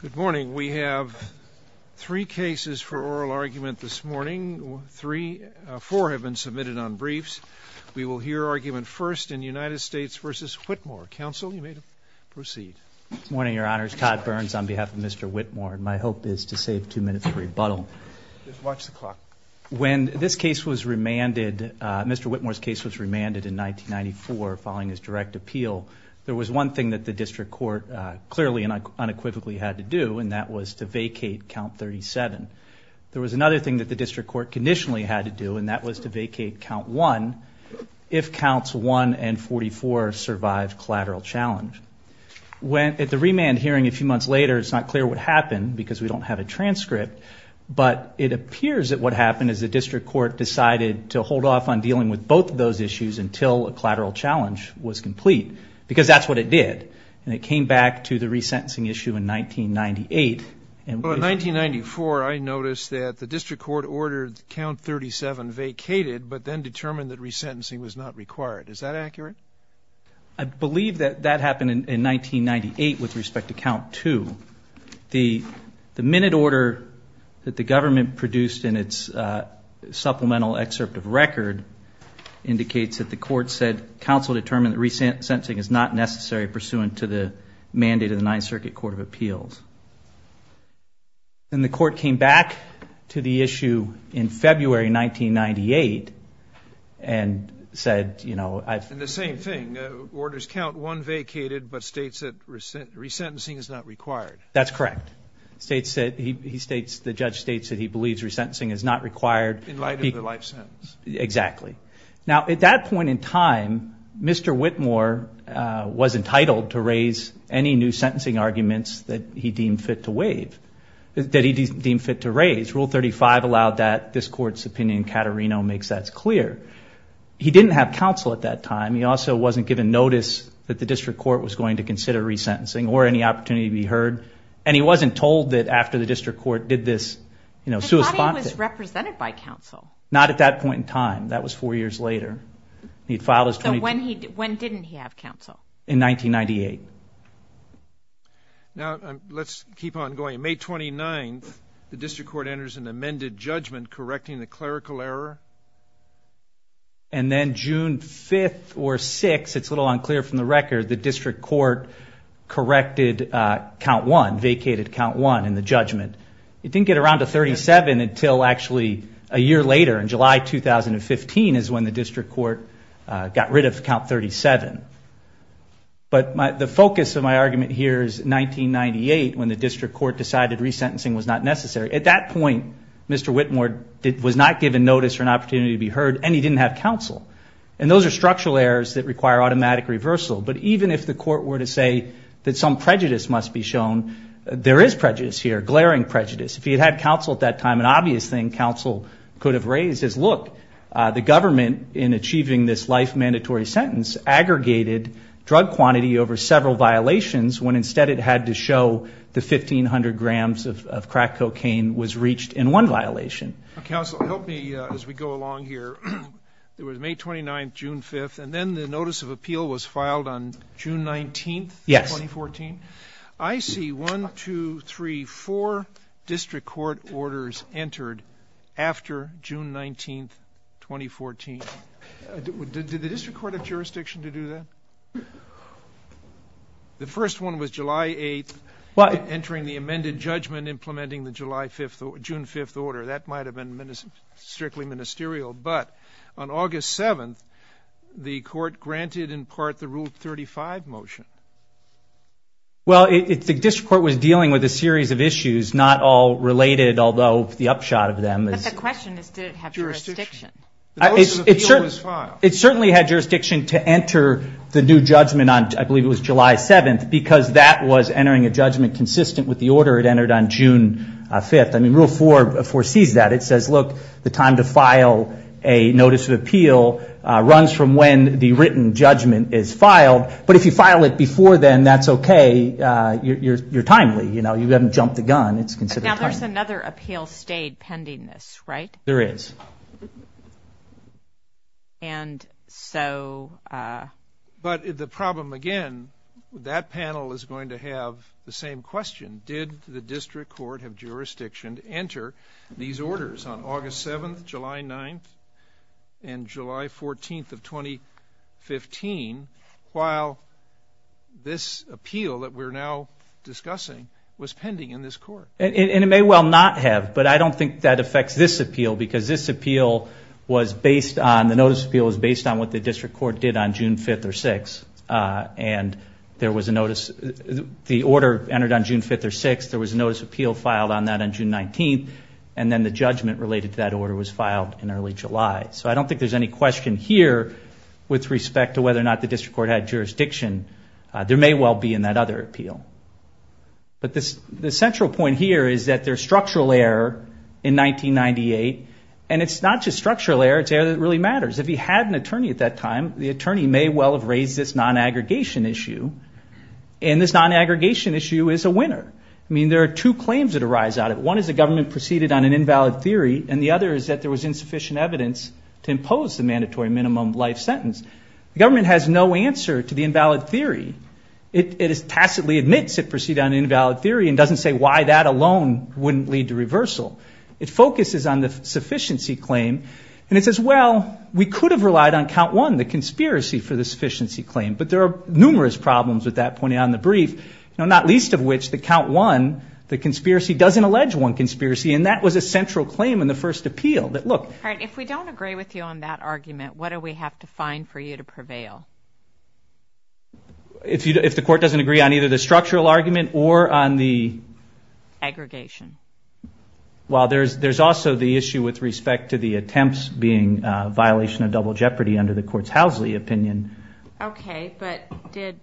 Good morning. We have three cases for oral argument this morning. Four have been submitted on briefs. We will hear argument first in United States v. Whitmore. Counsel, you may proceed. Good morning, Your Honors. Todd Burns on behalf of Mr. Whitmore. My hope is to save two minutes of rebuttal. When this case was remanded, Mr. Whitmore's case was remanded in 1994 following his direct acquittal, and that was to vacate count 37. There was another thing that the District Court conditionally had to do, and that was to vacate count 1 if counts 1 and 44 survived collateral challenge. At the remand hearing a few months later, it's not clear what happened because we don't have a transcript, but it appears that what happened is the District Court decided to hold off on dealing with both of those issues until a collateral challenge was complete, because that's what it did. And it came back to the resentencing issue in 1998. In 1994, I noticed that the District Court ordered count 37 vacated, but then determined that resentencing was not required. Is that accurate? I believe that that happened in 1998 with respect to count 2. The minute order that the government produced in its supplemental excerpt of record indicates that the necessary pursuant to the mandate of the Ninth Circuit Court of Appeals. And the court came back to the issue in February 1998 and said, you know... And the same thing, orders count 1 vacated, but states that resentencing is not required. That's correct. He states, the judge states that he believes resentencing is not required. In light of the life sentence. Exactly. Now at that point in time, Mr. Whitmore was entitled to raise any new sentencing arguments that he deemed fit to raise. Rule 35 allowed that. This court's opinion, Caterino, makes that clear. He didn't have counsel at that time. He also wasn't given notice that the District Court was going to consider resentencing or any opportunity to be heard. And he wasn't told that after the District Court did this, you know... I thought he was represented by counsel. Not at that point in time either. When didn't he have counsel? In 1998. Now let's keep on going. May 29th, the District Court enters an amended judgment correcting the clerical error. And then June 5th or 6th, it's a little unclear from the record, the District Court corrected count 1, vacated count 1 in the judgment. It didn't get around to 37 until actually a 2015 is when the District Court got rid of count 37. But the focus of my argument here is 1998, when the District Court decided resentencing was not necessary. At that point, Mr. Whitmore was not given notice or an opportunity to be heard and he didn't have counsel. And those are structural errors that require automatic reversal. But even if the court were to say that some prejudice must be shown, there is prejudice here, glaring prejudice. If he had had counsel at that time, an the government, in achieving this life mandatory sentence, aggregated drug quantity over several violations when instead it had to show the 1,500 grams of crack cocaine was reached in one violation. Counsel, help me as we go along here. It was May 29th, June 5th, and then the notice of appeal was filed on June 19th, 2014. I see 1, 2, 3, 4 District Court orders entered after June 19th, 2014. Did the District Court of Jurisdiction to do that? The first one was July 8th, entering the amended judgment, implementing the June 5th order. That might have been strictly ministerial. But on August 7th, the court granted in part the Rule 35 motion. Well, the District Court was dealing with a series of issues, not all related, although the upshot of them is... But the question is, did it have jurisdiction? It certainly had jurisdiction to enter the new judgment on, I believe it was July 7th, because that was entering a judgment consistent with the order it entered on June 5th. I mean, Rule 4 foresees that. It says, look, the time to file a notice of appeal runs from when the written judgment is filed. But if you file it before then, that's okay. You're timely. You know, you haven't jumped the gun. It's considered timely. Now, there's another appeal stayed pending this, right? There is. And so... But the problem again, that panel is going to have the same question. Did the District Court of Jurisdiction enter these orders on August 7th, July 9th, and this appeal that we're now discussing was pending in this court? And it may well not have, but I don't think that affects this appeal, because this appeal was based on... The notice appeal was based on what the District Court did on June 5th or 6th. And there was a notice... The order entered on June 5th or 6th. There was a notice of appeal filed on that on June 19th, and then the judgment related to that order was filed in early July. So I don't think there's any question here with respect to whether or not the District Court had jurisdiction. There may well be in that other appeal. But the central point here is that there's structural error in 1998, and it's not just structural error. It's error that really matters. If he had an attorney at that time, the attorney may well have raised this non-aggregation issue, and this non-aggregation issue is a winner. I mean, there are two claims that arise out of it. One is the government proceeded on an invalid theory, and the other is that there was insufficient evidence to provide a life sentence. The government has no answer to the invalid theory. It tacitly admits it proceeded on an invalid theory and doesn't say why that alone wouldn't lead to reversal. It focuses on the sufficiency claim, and it says, well, we could have relied on count one, the conspiracy, for the sufficiency claim. But there are numerous problems with that pointed out in the brief, not least of which the count one, the conspiracy doesn't allege one conspiracy, and that was a central claim in the first appeal. If we don't agree with you on that argument, what do we have to find for you to prevail? If the court doesn't agree on either the structural argument or on the aggregation. Well, there's also the issue with respect to the attempts being a violation of double jeopardy under the court's Housley opinion. Okay, but didn't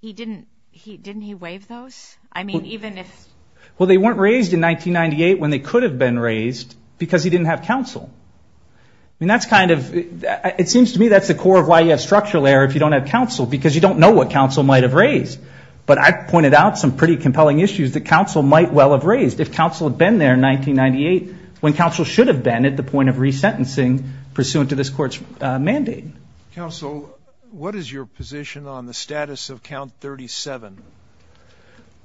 he waive those? Well, they weren't raised in 1998 when they could have been raised, because he didn't have counsel. I mean, it seems to me that's the core of why you have structural error if you don't have counsel, because you don't know what counsel might have raised. But I pointed out some pretty compelling issues that counsel might well have raised. If counsel had been there in 1998, when counsel should have been at the point of this court's mandate. Counsel, what is your position on the status of count 37?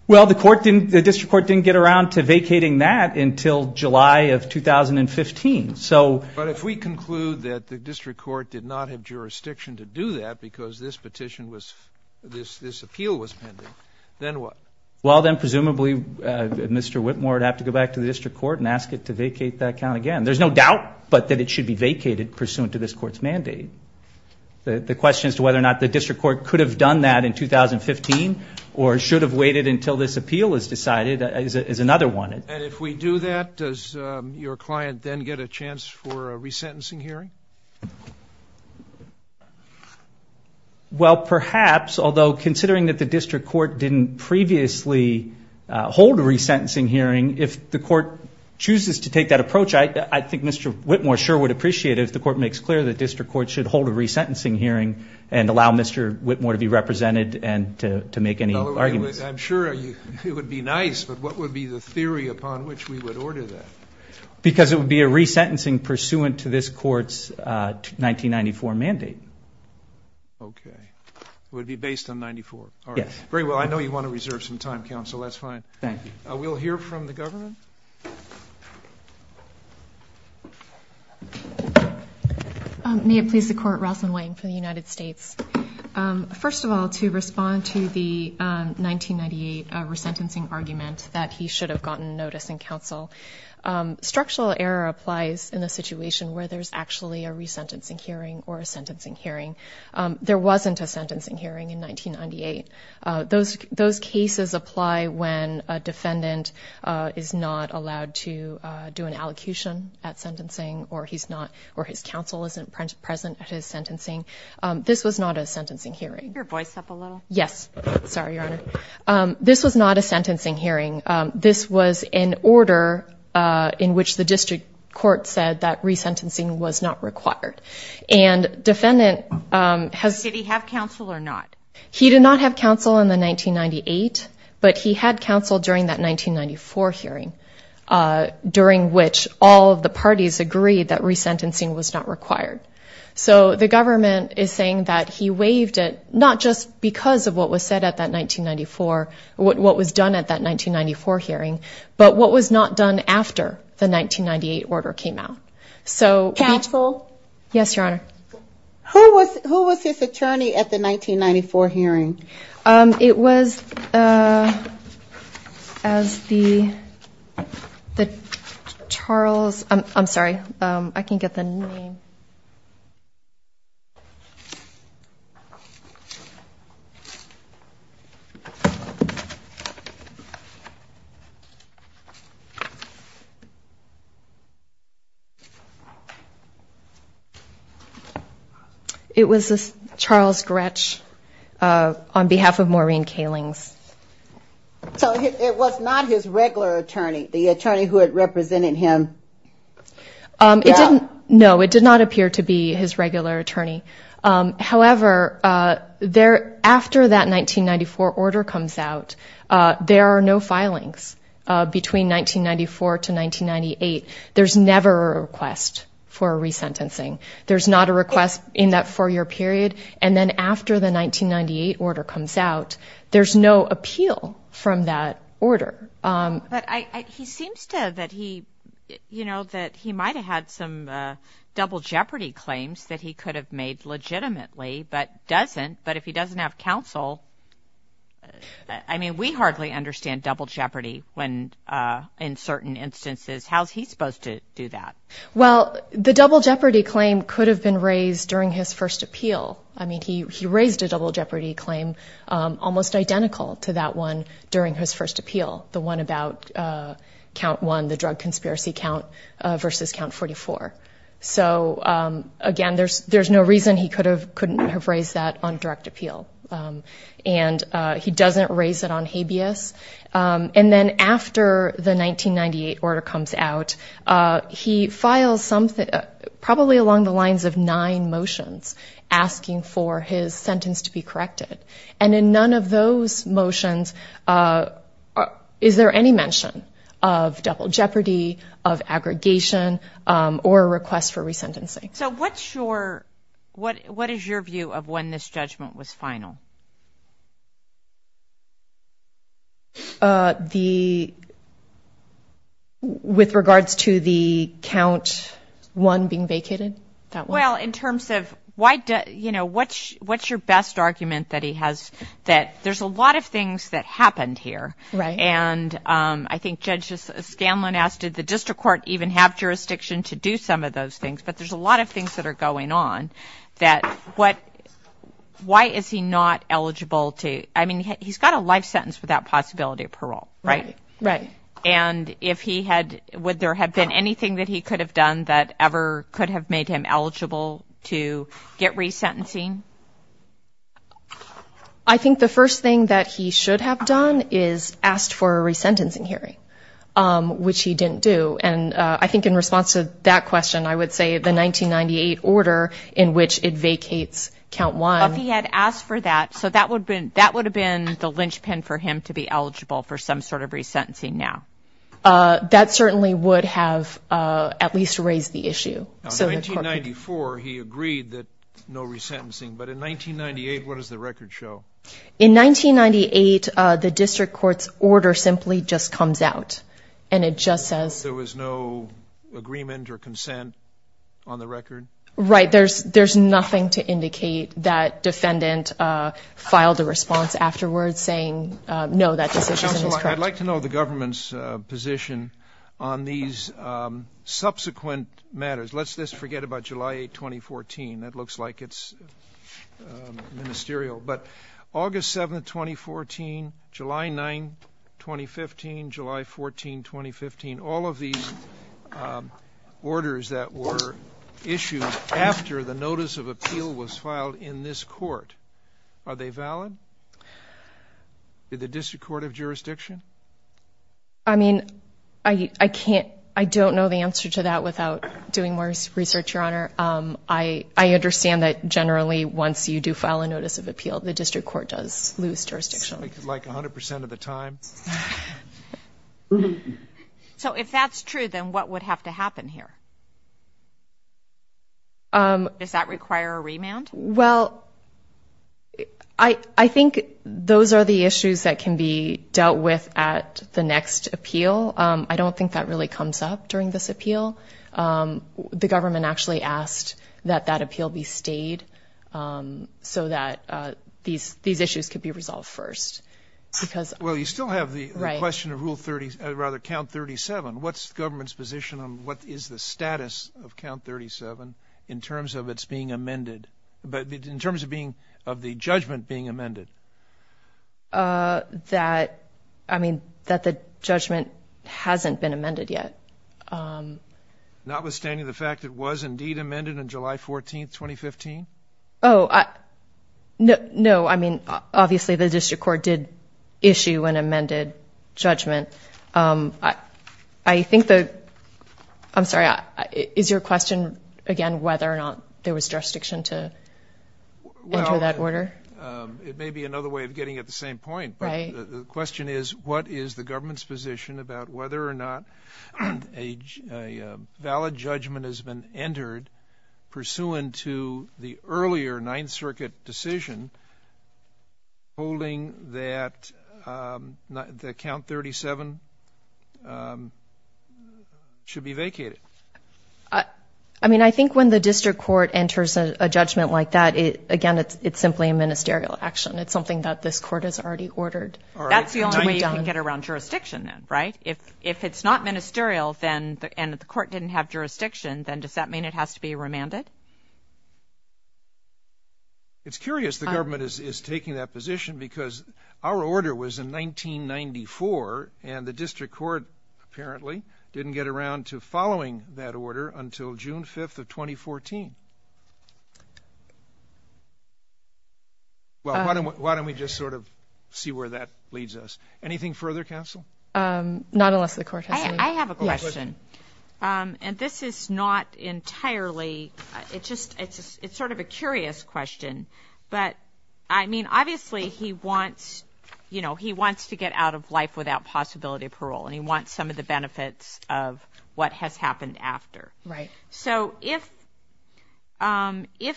Well, the court didn't, the district court didn't get around to vacating that until July of 2015. So, but if we conclude that the district court did not have jurisdiction to do that because this petition was, this, this appeal was pending, then what? Well, then presumably Mr. Whitmore would have to go back to the district court and ask it to vacate that count again. There's no doubt, but that it should be vacated pursuant to this court's mandate. The, the question as to whether or not the district court could have done that in 2015 or should have waited until this appeal is decided is another one. And if we do that, does your client then get a chance for a resentencing hearing? Well, perhaps, although considering that the district court didn't previously hold a resentencing hearing, if the court chooses to take that approach, I, I think Mr. Whitmore sure would appreciate it if the court makes clear the district court should hold a resentencing hearing and allow Mr. Whitmore to be represented and to make any arguments. I'm sure it would be nice, but what would be the theory upon which we would order that? Because it would be a resentencing pursuant to this court's 1994 mandate. Okay. It would be based on 94. Yes. Very well, I know you want to reserve some time, counsel, that's fine. Thank you. We'll hear from the government. May it please the court, Rosalyn Wang for the United States. First of all, to respond to the 1998 resentencing argument that he should have gotten notice in counsel. Structural error applies in a situation where there's actually a resentencing hearing or a sentencing hearing. There wasn't a sentencing hearing in 1998. Those, those cases apply when a defendant is not allowed to do an allocution at sentencing or he's not, or his counsel isn't present at his sentencing. This was not a sentencing hearing. Can you keep your voice up a little? Yes. Sorry, Your Honor. This was not a sentencing hearing. This was an order in which the district court said that resentencing was not required. And defendant has... Did he have counsel or not? He did not have counsel in the 1998, but he had counsel during that 1994 hearing, during which all of the parties agreed that resentencing was not required. So the government is saying that he waived it, not just because of what was said at that 1994, what was done at that 1994 hearing, but what was not done after the 1998 order came out. So... Counsel? Yes, Your Honor. Who was, who was his counsel? It was as the, the Charles... I'm sorry, I can't get the name. It was Charles Gretsch on behalf of Maureen Kalings. So it was not his regular attorney, the attorney who had represented him? It didn't, no, it did not He seems to, that he, you know, that he might have had some double jeopardy claims that he could have made legitimately, but doesn't. But if he doesn't have counsel, I mean, we hardly understand double jeopardy when, in certain instances, how's he supposed to do that? Well, the double jeopardy claim could have been raised during his first appeal. I mean, he, he raised a double jeopardy claim almost identical to that one during his first appeal, the one about count one, the drug conspiracy count versus count 44. So, again, there's, there's no reason he could have, couldn't have raised that on direct appeal. And he doesn't raise it on habeas. And then after the 1998 order comes out, he files something, probably along the lines of nine motions, asking for his sentence to be corrected. And in none of those motions is there any mention of double jeopardy, of What is your view of when this judgment was final? The, with regards to the count one being vacated? Well, in terms of why, you know, what's, what's your best argument that he has, that there's a lot of things that happened here. Right. And I think Judge Scanlon asked, did the district court even have jurisdiction to do some of those things? But there's a lot of things that are going on that, what, why is he not eligible to, I mean, he's got a life sentence without possibility of parole, right? Right. And if he had, would there have been anything that he could have done that ever could have made him eligible to get resentencing? I think the first thing that he should have done is asked for a resentencing hearing, which he didn't do. And I think in response to that question, I would say the 1998 order in which it vacates count one. If he had asked for that, so that would have been, that would have been the linchpin for him to be eligible for some sort of resentencing now. That certainly would have at least raised the issue. So in 1994, he agreed that no resentencing, but in 1998, what does the record show? In 1998, the district court's order simply just comes out. And it just says... There was no agreement or consent on the record? Right. There's, there's nothing to indicate that defendant filed a response afterwards saying no, that decision is in his court. Counsel, I'd like to know the government's position on these subsequent matters. Let's just forget about July 8th, 2014. That looks like it's ministerial, but August 7th, 2014, July 9th, 2015, July 14th, 2015, all of these orders that were issued after the notice of appeal was filed in this court, are they valid? Did the district court have jurisdiction? I mean, I can't, I don't know the answer to that without doing more research, Your Honor. I understand that generally once you do file a notice of appeal, the district court does lose jurisdiction. Like 100% of the time? So if that's true, then what would have to happen here? Does that require a remand? Well, I think those are the issues that can be dealt with at the next appeal. I don't think that really comes up during this appeal. The government actually asked that that appeal be stayed so that these issues could be resolved first. Well you still have the question of Rule 30, or rather Count 37. What's the government's position on what is the status of Count 37 in terms of its being amended, in terms of the judgment being amended? That the judgment hasn't been amended yet. Notwithstanding the fact that it was indeed amended on July 14th, 2015? No, I mean, obviously the district court did issue an amended judgment. I think the court did. Is your question, again, whether or not there was jurisdiction to enter that order? It may be another way of getting at the same point, but the question is, what is the government's position about whether or not a valid judgment has been entered pursuant to the earlier Ninth Circuit decision holding that Count 37 was amended? It should be vacated. I mean, I think when the district court enters a judgment like that, again, it's simply a ministerial action. It's something that this court has already ordered. That's the only way you can get around jurisdiction then, right? If it's not ministerial and the court didn't have jurisdiction, then does that mean it has to be remanded? It's curious the government is taking that position because our order was in 1994 and the district court, apparently, didn't get around to following that order until June 5th of 2014. Well, why don't we just sort of see where that leads us? Anything further, counsel? Not unless the court has something. I have a question, and this is not entirely, it's just, it's sort of a curious question, but I mean, obviously he wants, you know, he wants to get out of life without possibility of parole, and he wants some of the benefits of what has happened after. So if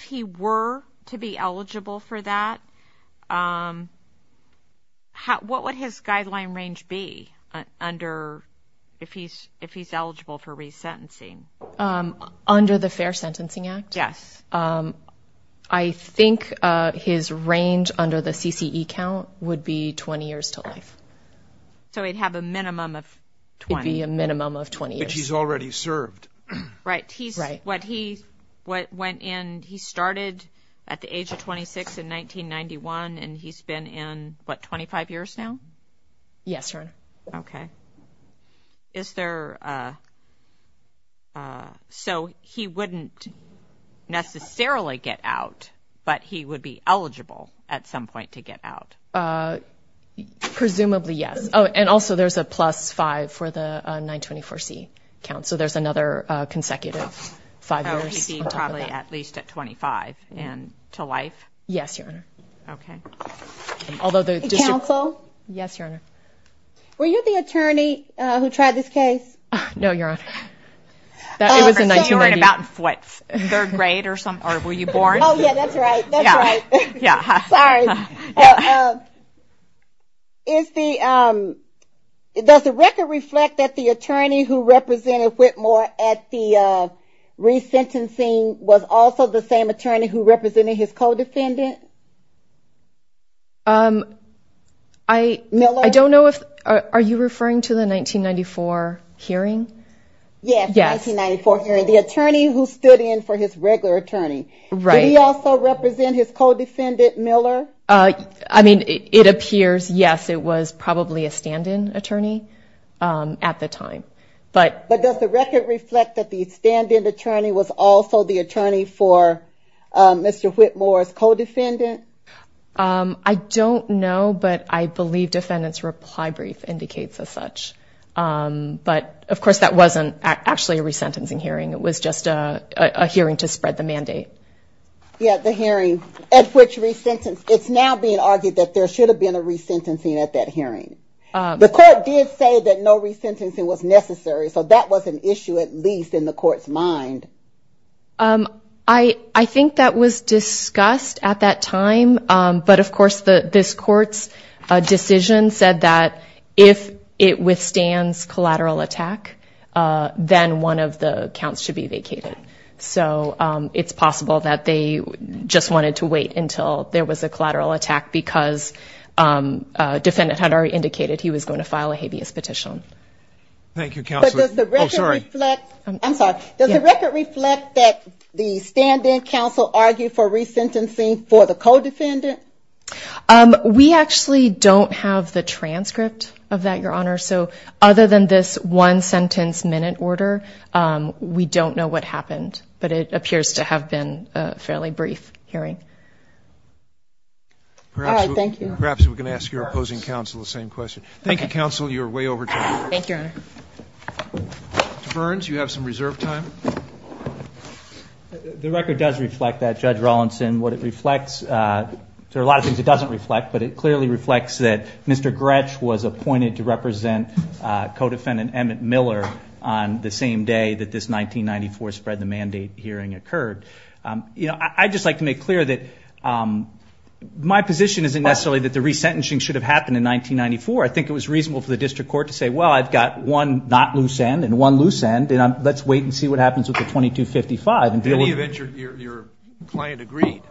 he were to be eligible for that, what would his guideline range be under, if he's eligible for resentencing? Under the Fair Sentencing Act? Yes. I think his range under the CCE count would be 20 years to life. So he'd have a minimum of 20? It'd be a minimum of 20 years. But he's already served. Right. He's, what he, what went in, he started at the age of 26 in 1991, and he's been in, what, 25 years now? Yes, Your Honor. Okay. Is there, so he wouldn't necessarily get out, but he would be eligible at some point to get out? Presumably yes. Oh, and also there's a plus five for the 924C count, so there's another consecutive five years on top of that. Oh, he'd be probably at least at 25, and to life? Yes, Your Honor. Okay. Counsel? Yes, Your Honor. Were you the attorney who tried this case? No, Your Honor. It was in 1990. So you were in about what, third grade or something, or were you born? Oh, yeah, that's right. That's right. Yeah. Sorry. Is the, does the record reflect that the attorney who represented Whitmore at the resentencing was also the same attorney who represented his co-defendant? Miller? I don't know if, are you referring to the 1994 hearing? Yes, the 1994 hearing. The attorney who stood in for his regular attorney. Right. Did he also represent his co-defendant, Miller? I mean, it appears, yes, it was probably a stand-in attorney at the time. But does the record reflect that the stand-in attorney was also the attorney for Mr. Whitmore's co-defendant? I don't know, but I believe defendant's reply brief indicates as such. But, of course, that wasn't actually a resentencing hearing. It was just a hearing to spread the mandate. Yeah, the hearing at which resentencing, it's now being argued that there should have been a resentencing at that hearing. The court did say that no resentencing was necessary, so that was an issue at least in the court's mind. I think that was discussed at that time, but, of course, this court's decision said that if it withstands collateral attack, then one of the counts should be vacated. So it's possible that they just wanted to wait until there was a collateral attack because defendant had already indicated he was going to file a habeas petition. Thank you, Counselor. Oh, sorry. Does the record reflect that the stand-in counsel argued for resentencing for the co-defendant? We actually don't have the transcript of that, Your Honor. So other than this one-sentence-minute order, we don't know what happened, but it appears to have been a fairly brief hearing. All right. Thank you. Perhaps we can ask your opposing counsel the same question. You're way over time. Thank you, Your Honor. Mr. Burns, you have some reserve time. The record does reflect that, Judge Rawlinson. What it reflects, there are a lot of things it doesn't reflect, but it clearly reflects that Mr. Gretsch was appointed to represent co-defendant Emmett Miller on the same day that this 1994 spread the mandate hearing occurred. I'd just like to make clear that my position isn't necessarily that the resentencing should have happened in 1994. I think it was reasonable for the district court to say, well, I've got one not loose end and one loose end, and let's wait and see what happens with the 2255 and deal with it. In any event, your client agreed.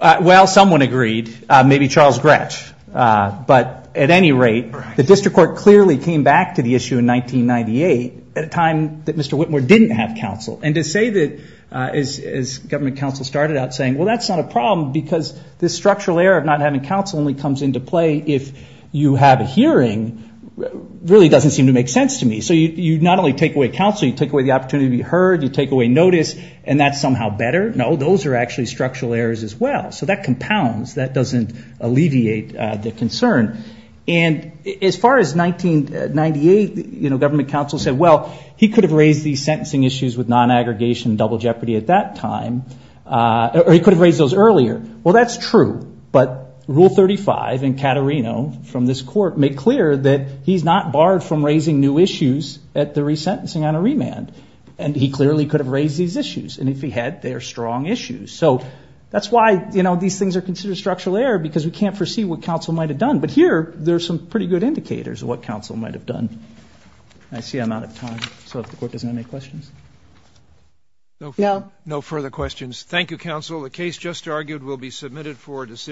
Well, someone agreed, maybe Charles Gretsch. But at any rate, the district court clearly came back to the issue in 1998 at a time that Mr. Whitmore didn't have counsel. And to say that, as government counsel started out saying, well, that's not a problem because this structural error of not having counsel only comes into play if you have a hearing really doesn't seem to make sense to me. So you not only take away counsel, you take away the opportunity to be heard, you take away notice, and that's somehow better. No, those are actually structural errors as well. So that compounds. That doesn't alleviate the concern. And as far as 1998, government counsel said, well, he could have raised these sentencing issues with non-aggregation and double jeopardy at that time, or he could have raised those earlier. Well, that's true. But Rule 35 in Caterino from this court made clear that he's not barred from raising new issues at the resentencing on a remand. And he clearly could have raised these issues. And if he had, they are strong issues. So that's why, you know, these things are considered structural error, because we can't foresee what counsel might have done. But here, there's some pretty good indicators of what counsel might have done. I see I'm out of time. So if the court doesn't have any questions. No further questions. Thank you, counsel. The case just argued will be submitted for decision.